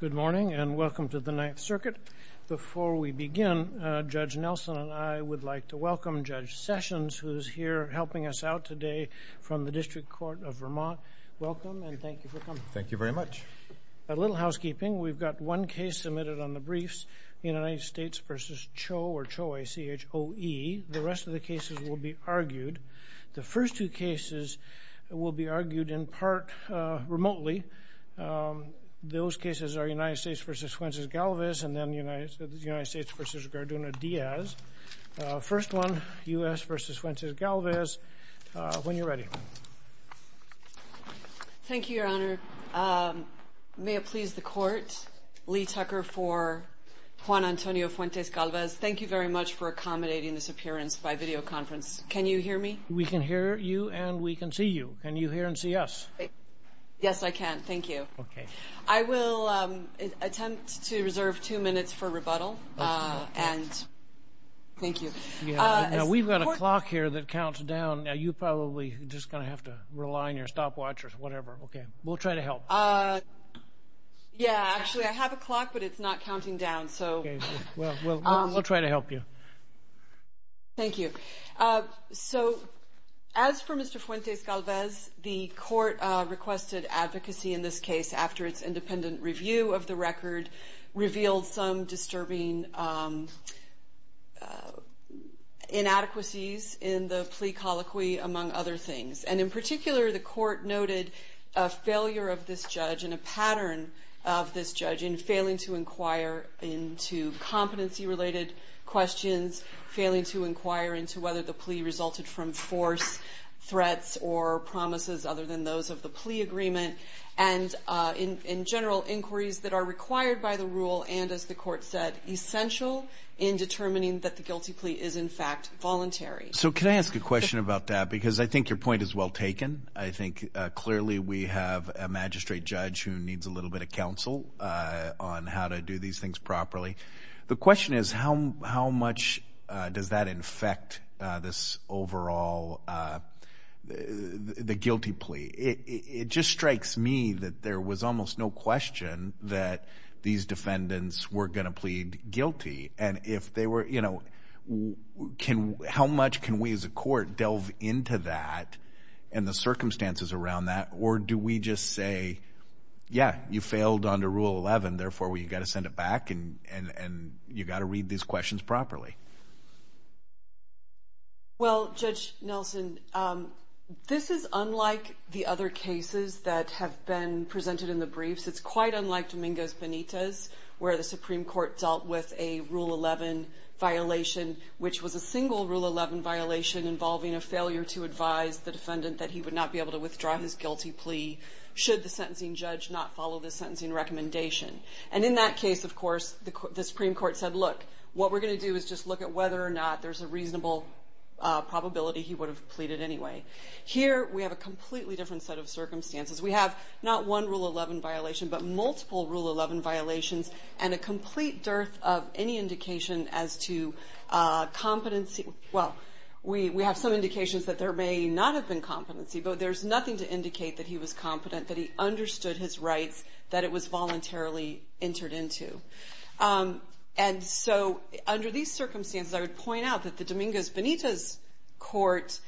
Good morning and welcome to the Ninth Circuit. Before we begin, Judge Nelson and I would like to welcome Judge Sessions who is here helping us out today from the District Court of Vermont. Welcome and thank you for coming. Thank you very much. A little housekeeping. We've got one case submitted on the briefs, United States v. Cho, or Cho, A-C-H-O-E. The rest of the cases will be argued. The first two cases will be argued in part remotely. Those cases are United States v. Fuentes-Galvez and then United States v. Garduna-Diaz. First one, U.S. v. Fuentes-Galvez, when you're ready. Thank you, Your Honor. May it please the Court, Lee Tucker for Juan Antonio Fuentes-Galvez. Thank you very much for accommodating this appearance by videoconference. Can you hear me? We can hear you and we can see you. Can you hear and see us? Yes, I can. Thank you. I will attempt to reserve two minutes for rebuttal. Thank you. We've got a clock here that counts down. You're probably just going to have to rely on your stopwatch or whatever. We'll try to help. Actually, I have a clock but it's not counting down. We'll try to help you. Thank you. As for Mr. Fuentes-Galvez, the Court requested advocacy in this case after its independent review of the record revealed some disturbing inadequacies in the plea colloquy, among other things. In particular, the Court noted a failure of this judge and a pattern of this judge in failing to inquire into competency-related questions, failing to inquire into whether the plea resulted from force, threats, or promises other than those of the plea agreement, and in general, inquiries that are required by the rule and, as the Court said, essential in determining that the guilty plea is, in fact, voluntary. Can I ask a question about that? I think your clearly we have a magistrate judge who needs a little bit of counsel on how to do these things properly. The question is, how much does that affect this overall guilty plea? It just strikes me that there was almost no question that these defendants were going plead guilty. How much can we as a Court delve into that and the circumstances around that or do we just say, yeah, you failed under Rule 11, therefore, we've got to send it back and you've got to read these questions properly? Well, Judge Nelson, this is unlike the other cases that have been presented in the briefs. It's quite unlike Domingo's Benitez, where the Supreme Court dealt with a Rule 11 violation, which was a single Rule 11 violation involving a failure to advise the defendant that he would not be able to withdraw his guilty plea should the sentencing judge not follow the sentencing recommendation. And in that case, of course, the Supreme Court said, look, what we're going to do is just look at whether or not there's a reasonable probability he would have pleaded anyway. Here, we have a completely different set of circumstances. We have not one Rule 11 violation, but multiple Rule 11 violations and a complete dearth of any indication as to competency. Well, we have some indications that there may not have been competency, but there's nothing to indicate that he was competent, that he understood his rights, that it was voluntarily entered into. And so under these circumstances, I would point out that the Domingo's Benitez Court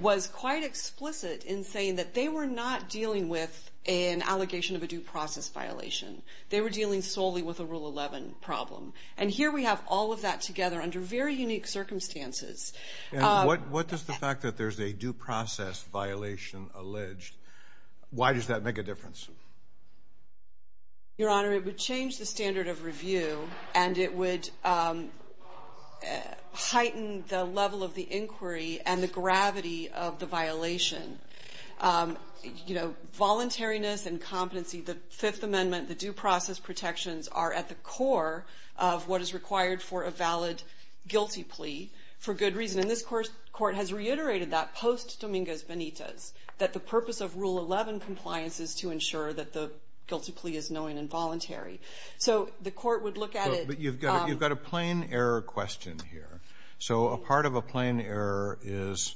was quite explicit in saying that they were not dealing with an allegation of a due process violation. They were dealing solely with a Rule 11 problem. And here, we have all of that together under very unique circumstances. What does the fact that there's a due process violation allege, why does that make a difference? Your Honor, it would change the standard of review, and it would heighten the level of the inquiry and the gravity of the violation. Voluntariness and competency, the Fifth Amendment, the due process protections are at the core of what is required for a valid guilty plea for good reason. And this Court has reiterated that post Domingo's Benitez, that the purpose of Rule 11 compliance is to ensure that the guilty plea is knowing and voluntary. So the Court would look at it... But you've got a plain error question here. So a part of a plain error is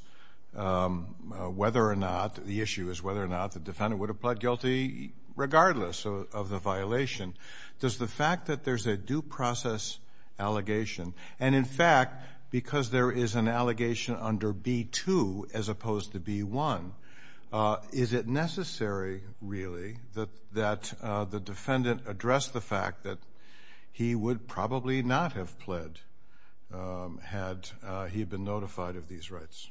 whether or not, the issue is whether or not the defendant would have pled guilty regardless of the violation. Does the fact that there's a due process allegation, and in fact, because there is an allegation under B-2 as opposed to B-1, is it necessary, really, that the defendant address the fact that he would probably not have pled had he been notified of these rights?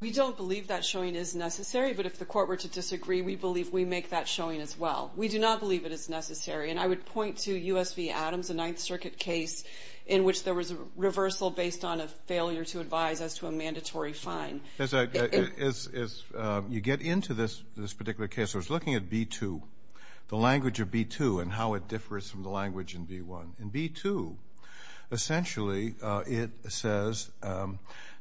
We don't believe that showing is necessary, but if the Court were to disagree, we believe we make that showing as well. We do not believe it is necessary. And I would point to U.S. v. Adams, a Ninth Circuit case, in which there was a reversal based on a failure to advise as to a mandatory fine. As you get into this particular case, I was looking at B-2, the language of B-2 and how it differs from the language in B-1. In B-2, essentially, it says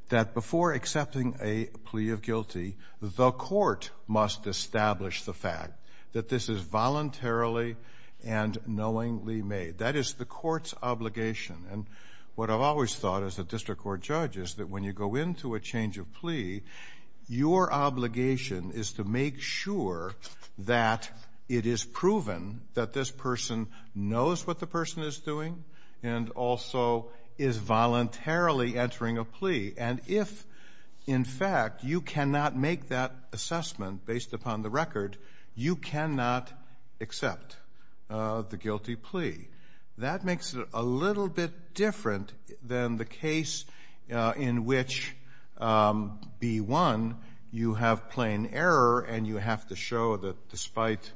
that before accepting a plea of guilty, the Court must establish the fact that this is voluntarily and knowingly made. That is the Court's obligation. And what I've always thought as a district court judge is that when you go into a change of plea, your obligation is to make sure that it is proven that this person knows what the person is doing and also is voluntarily entering a plea. And if, in fact, you cannot make that assessment based upon the record, you cannot accept the guilty plea. That makes it a little bit different than the case in which B-1, you have plain error and you have to show that despite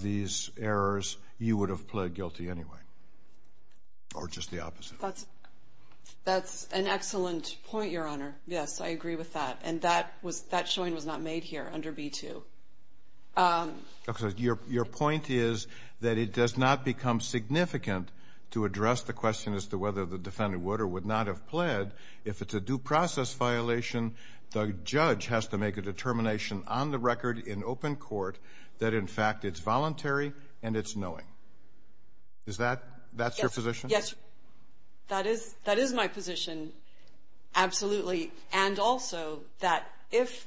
these errors, you would have pled guilty anyway. Or just the opposite. That's an excellent point, Your Honor. Yes, I agree with that. And that showing was not made here under B-2. Your point is that it does not become significant to address the question as to whether the defendant would or would not have pled if it's a due process violation. The judge has to make a determination on the record in open court that, in fact, it's voluntary and it's knowing. Is that your position? Yes, that is my position. Absolutely. And also that if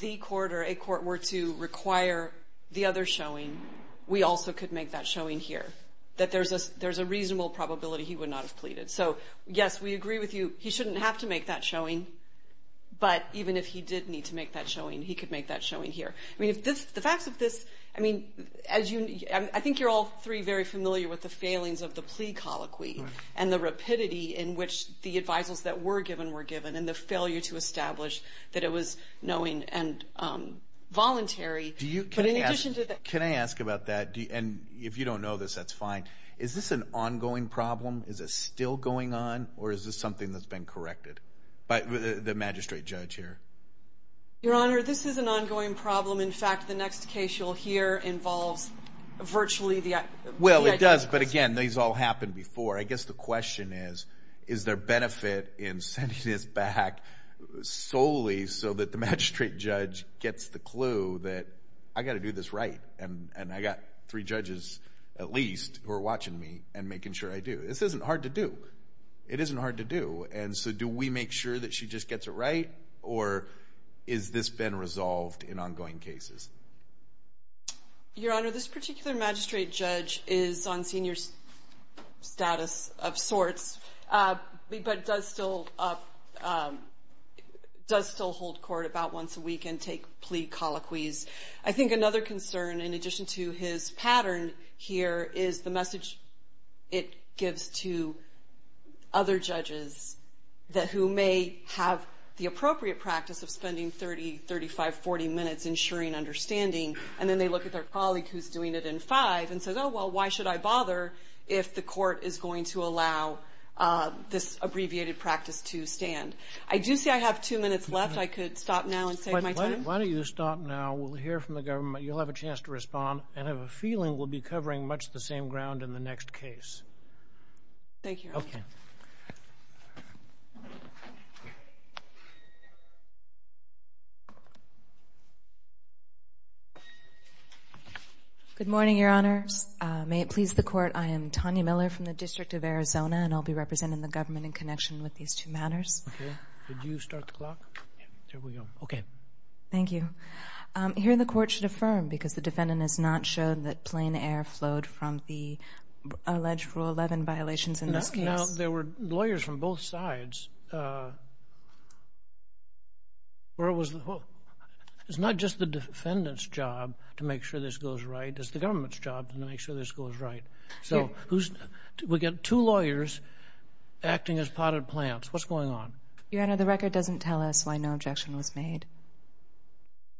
the court or a court were to require the other showing, we also could make that showing here. That there's a reasonable probability he would not have pleaded. So, yes, we agree with you. He shouldn't have to make that showing. But even if he did need to make that showing, he could make that showing here. I mean, the facts of this, I mean, as you, I think you're all three very familiar with the failings of the plea colloquy and the rapidity in which the advisals that were given were given and the failure to establish that it was knowing and voluntary. But in addition to that... Can I ask about that? And if you don't know this, that's fine. Is this an ongoing problem? Is it still going on? Or is this something that's been corrected by the magistrate judge here? Your Honor, this is an ongoing problem. In fact, the next case you'll hear involves virtually the... Well, it does. But again, these all happened before. I guess the question is, is there benefit in sending this back solely so that the magistrate judge gets the clue that I got to do this right and I got three judges, at least, who are watching me and making sure I do. This isn't hard to do. It isn't hard to do. And so do we make sure that she just gets it right? Or is this been resolved in ongoing cases? Your Honor, this particular magistrate judge is on senior status of sorts, but does still hold court about once a week and take plea colloquies. I think another concern, in addition to his pattern here, is the message it gives to other judges who may have the appropriate practice of spending 30, 35, 40 minutes ensuring understanding. And then they look at their colleague who's doing it in five and says, oh, well, why should I bother if the court is going to allow this abbreviated practice to stand? I do see I have two minutes left. I could stop now and save my time. Why don't you stop now. We'll hear from the government. You'll have a chance to respond. And I have a feeling we'll be covering much the same ground in the next case. Thank you, Your Honor. Good morning, Your Honors. May it please the court, I am Tanya Miller from the District of Arizona, and I'll be representing the government in connection with these two matters. Okay. Did you start the clock? There we go. Okay. Thank you. Here, the court should affirm, because the defendant has not shown that plain air flowed from the alleged Rule 11 violations in this case. Now, there were lawyers from both sides. It's not just the defendant's job to make sure this goes right. It's the government's job to make sure this goes right. So, we've got two lawyers acting as potted plants. What's going on? Your Honor, the record doesn't tell us why no objection was made.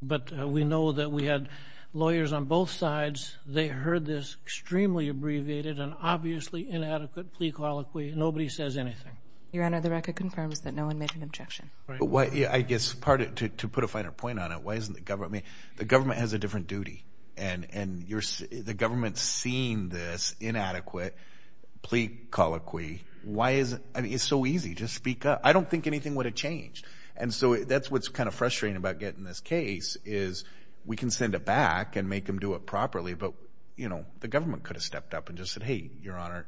But we know that we had lawyers on both sides. They heard this extremely abbreviated and nobody says anything. Your Honor, the record confirms that no one made an objection. I guess, to put a finer point on it, the government has a different duty. And the government seeing this inadequate plea colloquy, it's so easy. Just speak up. I don't think anything would have changed. And so, that's what's kind of frustrating about getting this case, is we can send it back and make them do it properly, but the government could have stepped up and just said, hey, Your Honor,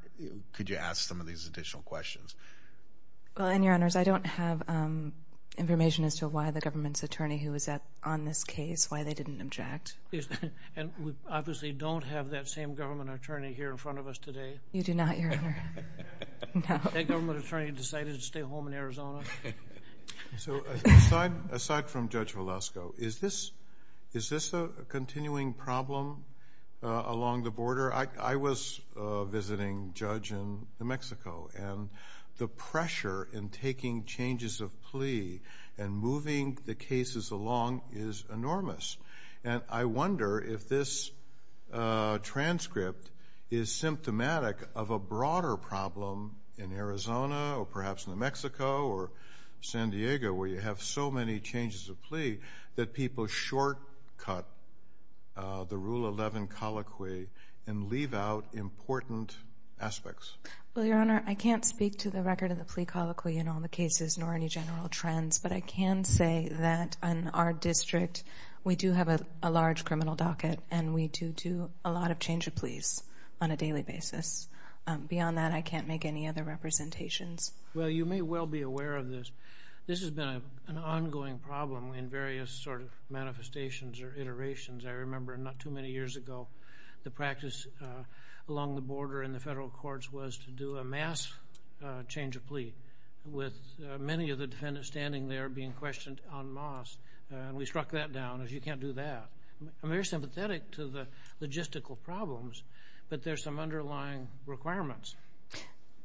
could you ask some of these additional questions. Well, and Your Honors, I don't have information as to why the government's attorney who was on this case, why they didn't object. And we obviously don't have that same government attorney here in front of us today. You do not, Your Honor. That government attorney decided to stay home in Arizona. So, aside from Judge Velasco, is this a continuing problem along the border? I was visiting Judge in New Mexico, and the pressure in taking changes of plea and moving the cases along is enormous. And I wonder if this transcript is symptomatic of a broader problem in Arizona, or perhaps New Mexico, or San Diego, where you have so many changes of plea that people shortcut the Rule 11 colloquy and leave out important aspects. Well, Your Honor, I can't speak to the record of the plea colloquy in all the cases, nor any general trends, but I can say that in our district, we do have a large criminal docket, and we do do a lot of change of pleas on a daily basis. Beyond that, I can't make any other representations. Well, you may well be aware of this. This has been an ongoing problem in various sort of manifestations or iterations. I remember not too many years ago, the practice along the border in the federal courts was to do a mass change of plea, with many of the defendants standing there being questioned en masse, and we struck that down as you can't do that. I'm very sympathetic to the logistical problems, but there are some underlying requirements.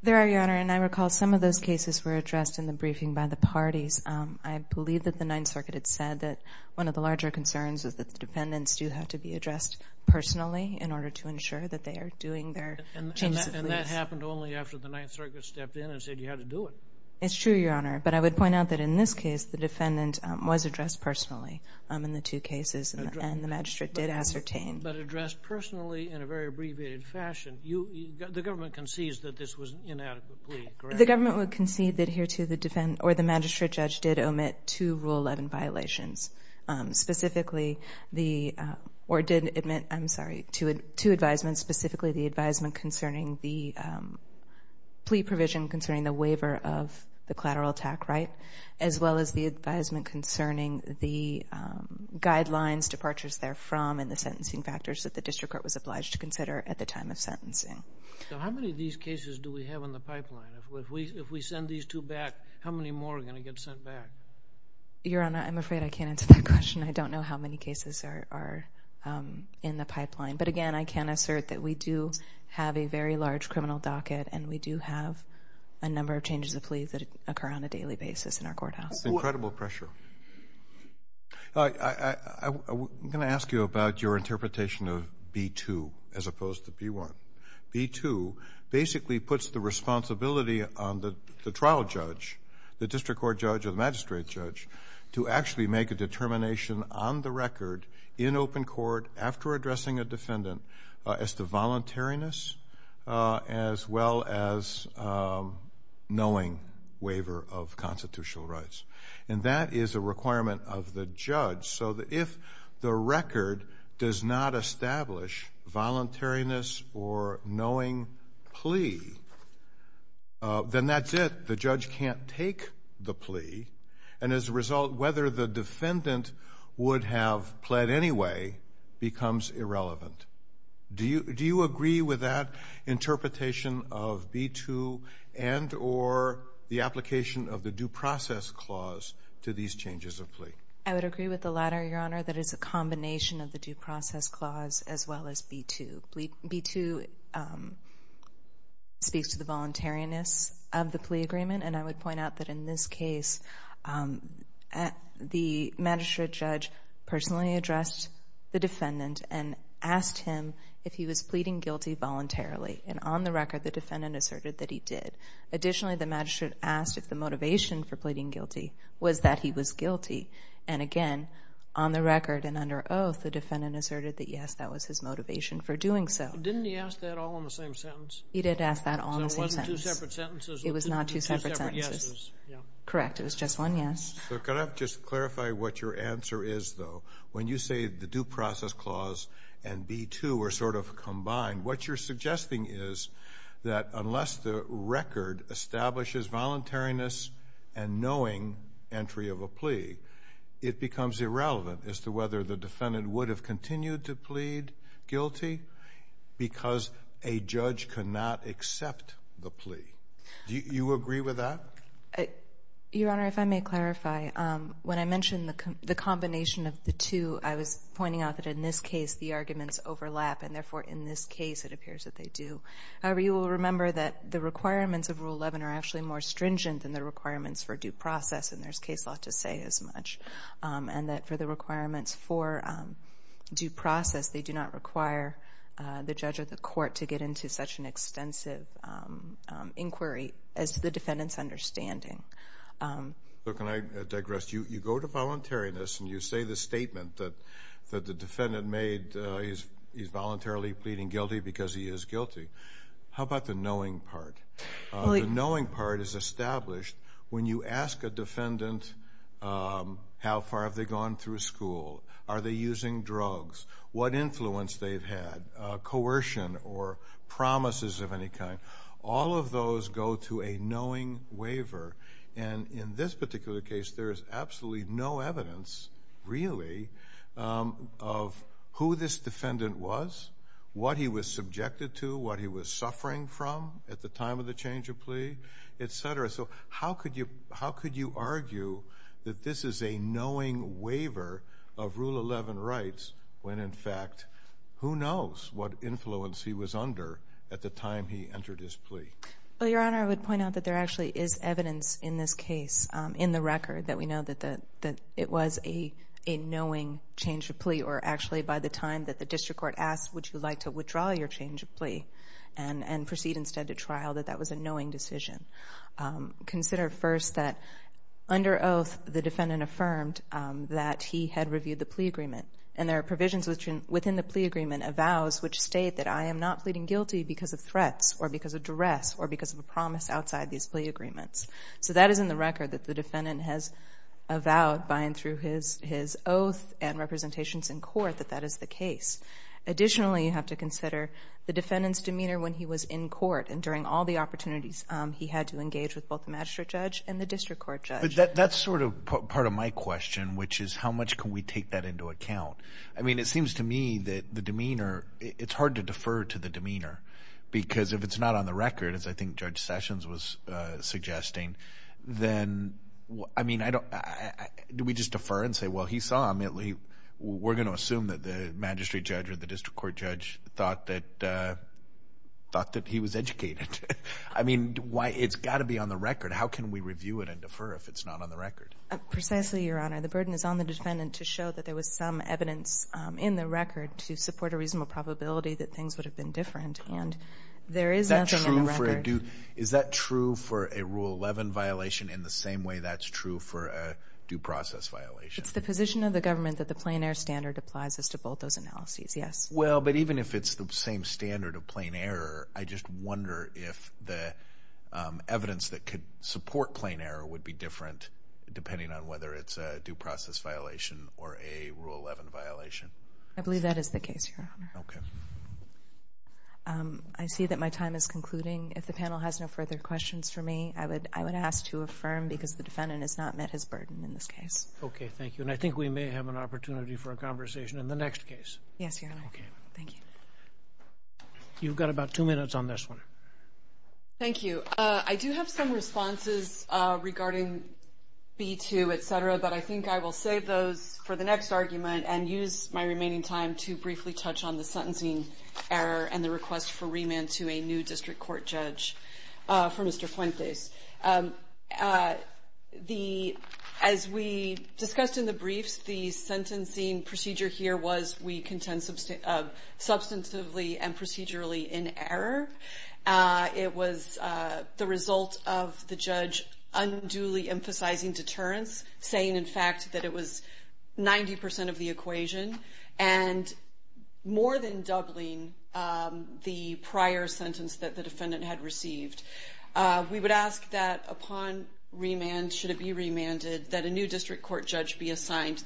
There are, Your Honor, and I recall some of those cases were addressed in the briefing by the parties. I believe that the Ninth Circuit had said that one of the larger concerns is that the defendants do have to be addressed personally in order to ensure that they are doing their changes of pleas. And that happened only after the Ninth Circuit stepped in and said you had to do it. It's true, Your Honor, but I would point out that in this case, the defendant was addressed personally in the two cases, and the magistrate did ascertain. But addressed personally in a very abbreviated fashion, the government concedes that this was an inadequate plea, correct? The government would concede that here, too, the defendant or the magistrate judge did omit two Rule 11 violations. Specifically, the, or did admit, I'm sorry, two advisements, specifically the advisement concerning the plea provision concerning the waiver of the collateral attack right, as well as the advisement concerning the guidelines, departures therefrom, and the sentencing factors that the district court was obliged to consider at the time of sentencing. So how many of these cases do we have in the pipeline? If we send these two back, how many more are going to get sent back? Your Honor, I'm afraid I can't answer that question. I don't know how many cases are in the pipeline. But again, I can assert that we do have a very large criminal docket, and we do have a number of changes of pleas that occur on a daily basis in our courthouse. That's incredible pressure. I'm going to ask you about your interpretation of B-2, as opposed to B-1. B-2 basically puts the responsibility on the trial judge, the district court judge or the magistrate judge, to actually make a determination on the record in open court, after addressing a defendant, as to voluntariness, as well as knowing waiver of constitutional rights. And that is a requirement of the judge. So if the record does not establish voluntariness or knowing plea, then that's it. The judge can't take the plea. And as a result, whether the defendant would have pled anyway becomes irrelevant. Do you agree with that interpretation of B-2 and or the application of the due process clause to these changes of plea? I would agree with the latter, Your Honor. That is a combination of the due process clause, as well as B-2. B-2 speaks to the voluntariness of the plea agreement. And I would point out that in this case, the magistrate judge personally addressed the defendant and asked him if he was pleading guilty voluntarily. And on the record, the defendant asserted that he did. Additionally, the magistrate asked if the motivation for pleading guilty was that he was guilty. And again, on the record and under oath, the defendant asserted that, yes, that was his motivation for doing so. Didn't he ask that all in the same sentence? He did ask that all in the same sentence. So it wasn't two separate sentences? It was not two separate sentences. Two separate yeses, yeah. Correct. It was just one yes. So could I just clarify what your answer is, though? When you say the due process clause and B-2 are sort of combined, what you're suggesting is that unless the record establishes voluntariness and knowing entry of a plea, it becomes irrelevant as to whether the defendant would have continued to plead guilty because a judge could not accept the plea. Do you agree with that? Your Honor, if I may clarify, when I mentioned the combination of the two, I was pointing out that in this case, the arguments overlap. And therefore, in this case, it appears that they do. However, you will remember that the requirements of Rule 11 are actually more stringent than the requirements for due process, and there's case law to say as much. And that for the requirements for due process, they do not require the judge or the court to get into such an extensive inquiry as to the defendant's understanding. Look, and I digress. You go to voluntariness, and you say the statement that the defendant made, he's voluntarily pleading guilty because he is guilty. How about the knowing part? The knowing part is established when you ask a defendant how far have they gone through school? Are they using drugs? What influence they've had? Coercion or promises of any kind? All of those go to a knowing waiver. And in this particular case, there is absolutely no evidence really of who this defendant was, what he was subjected to, what he was suffering from at the time of the change of plea, et cetera. So how could you argue that this is a knowing waiver of Rule 11 rights when, in fact, who knows what influence he was under at the time he entered his plea? Well, Your Honor, I would point out that there actually is evidence in this case in the record that we know that it was a knowing change of plea, or actually by the time that the district court asked, would you like to withdraw your change of plea and proceed instead to the district court? And there are provisions within the plea agreement avows which state that I am not pleading guilty because of threats or because of duress or because of a promise outside these plea agreements. So that is in the record that the defendant has avowed by and through his oath and representations in court that that is the case. Additionally, you have to consider the defendant's demeanor when he was in court and during all the opportunities he had to engage with both the magistrate judge and the district court judge. That's sort of part of my question, which is how much can we take that into account? I mean, it seems to me that the demeanor, it's hard to defer to the demeanor because if it's not on the record, as I think Judge Sessions was suggesting, then, I mean, do we just defer and say, well, he saw immediately, we're going to assume that the magistrate judge or the district court judge thought that he was educated. I mean, it's got to be on the record. How can we review it and defer if it's not on the record? Precisely, Your Honor. The burden is on the defendant to show that there was some evidence in the record to support a reasonable probability that things would have been different. And there is nothing on the record. Is that true for a Rule 11 violation in the same way that's true for a due process violation? It's the position of the government that the plain air standard applies as to both those analyses, yes. Well, but even if it's the same standard of plain air, I just wonder if the evidence that could support plain air would be different depending on whether it's a due process violation or a Rule 11 violation. I believe that is the case, Your Honor. I see that my time is concluding. If the panel has no further questions for me, I would ask to affirm because the defendant has not met his burden in this case. Okay, thank you. And I think we may have an opportunity for a conversation in the next case. Yes, Your Honor. Okay. Thank you. You've got about two minutes on this one. Thank you. I do have some responses regarding B-2, etc., but I think I will save those for the next argument and use my remaining time to briefly touch on the sentencing error and the request for remand to a new district court judge for Mr. Fuentes. As we discussed in the briefs, the sentencing procedure here was, we contend, substantively and procedurally in error. It was the result of the judge unduly emphasizing deterrence, saying, in fact, that it was 90% of the equation and more than doubling the prior sentence that the defendant had received. We would ask that upon remand, should it be remanded, that a new district court judge be assigned.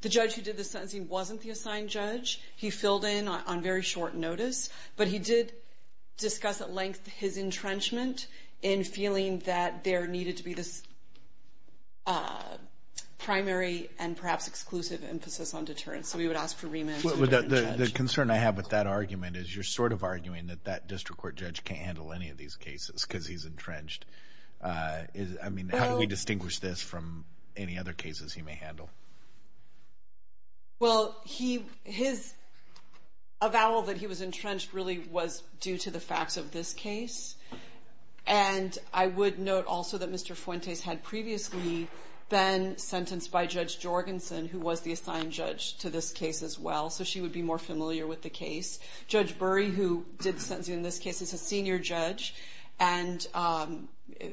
The judge who did the sentencing wasn't the assigned judge. He filled in on very short notice, but he did discuss at length his entrenchment in feeling that there needed to be this primary and perhaps exclusive emphasis on deterrence. So we would ask for remand to a different judge. The concern I have with that argument is you're sort of arguing that that district court judge can't handle any of these cases because he's entrenched. I mean, how do we distinguish this from any other cases he may handle? Well, his avowal that he was entrenched really was due to the facts of this case. And I would note also that Mr. Fuentes had previously been sentenced by Judge Jorgensen, who was the assigned judge to this case as well. So she would be more familiar with the case. Judge Burry, who did the sentencing in this case, is a senior judge and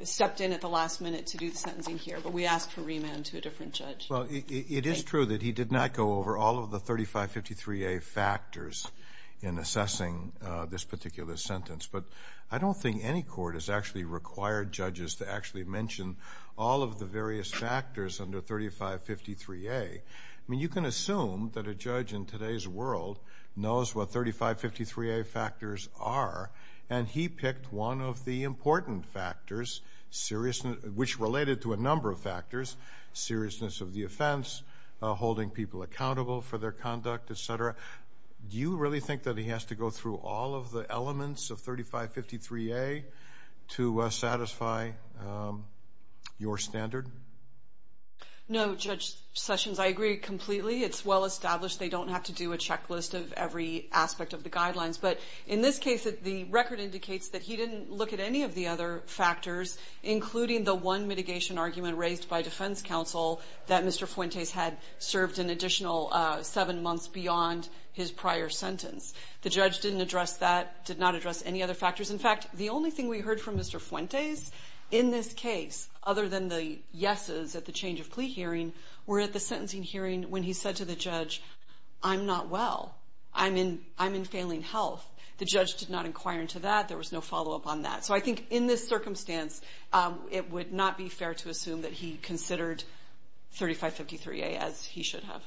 stepped in at the last minute to do the sentencing here. But we ask for remand to a different judge. Well, it is true that he did not go over all of the 3553A factors in assessing this particular sentence. But I don't think any court has actually required judges to actually mention all of the various factors under 3553A. I mean, you can assume that a judge in today's world knows what 3553A factors are, and he picked one of the important factors, which related to a number of factors, seriousness of the offense, holding people accountable for their conduct, etc. Do you really think that he has to go through all of the elements of 3553A to satisfy your standard? No, Judge Sessions, I agree completely. It's well established they don't have to do a checklist of every aspect of the guidelines. But in this case, the record indicates that he didn't look at any of the other factors, including the one mitigation argument raised by defense counsel that Mr. Fuentes had served an additional seven months beyond his prior sentence. The judge didn't address that, did not address any other factors. In fact, the only thing we heard from Mr. Fuentes in this case, other than the yeses at the change of I'm in failing health. The judge did not inquire into that. There was no follow-up on that. So I think in this circumstance, it would not be fair to assume that he considered 3553A as he should have.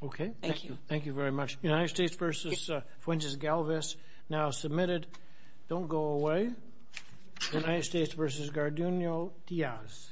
Okay. Thank you. Thank you very much. United States v. Fuentes Galvez, now submitted. Don't go away. United States v. Garduno Diaz.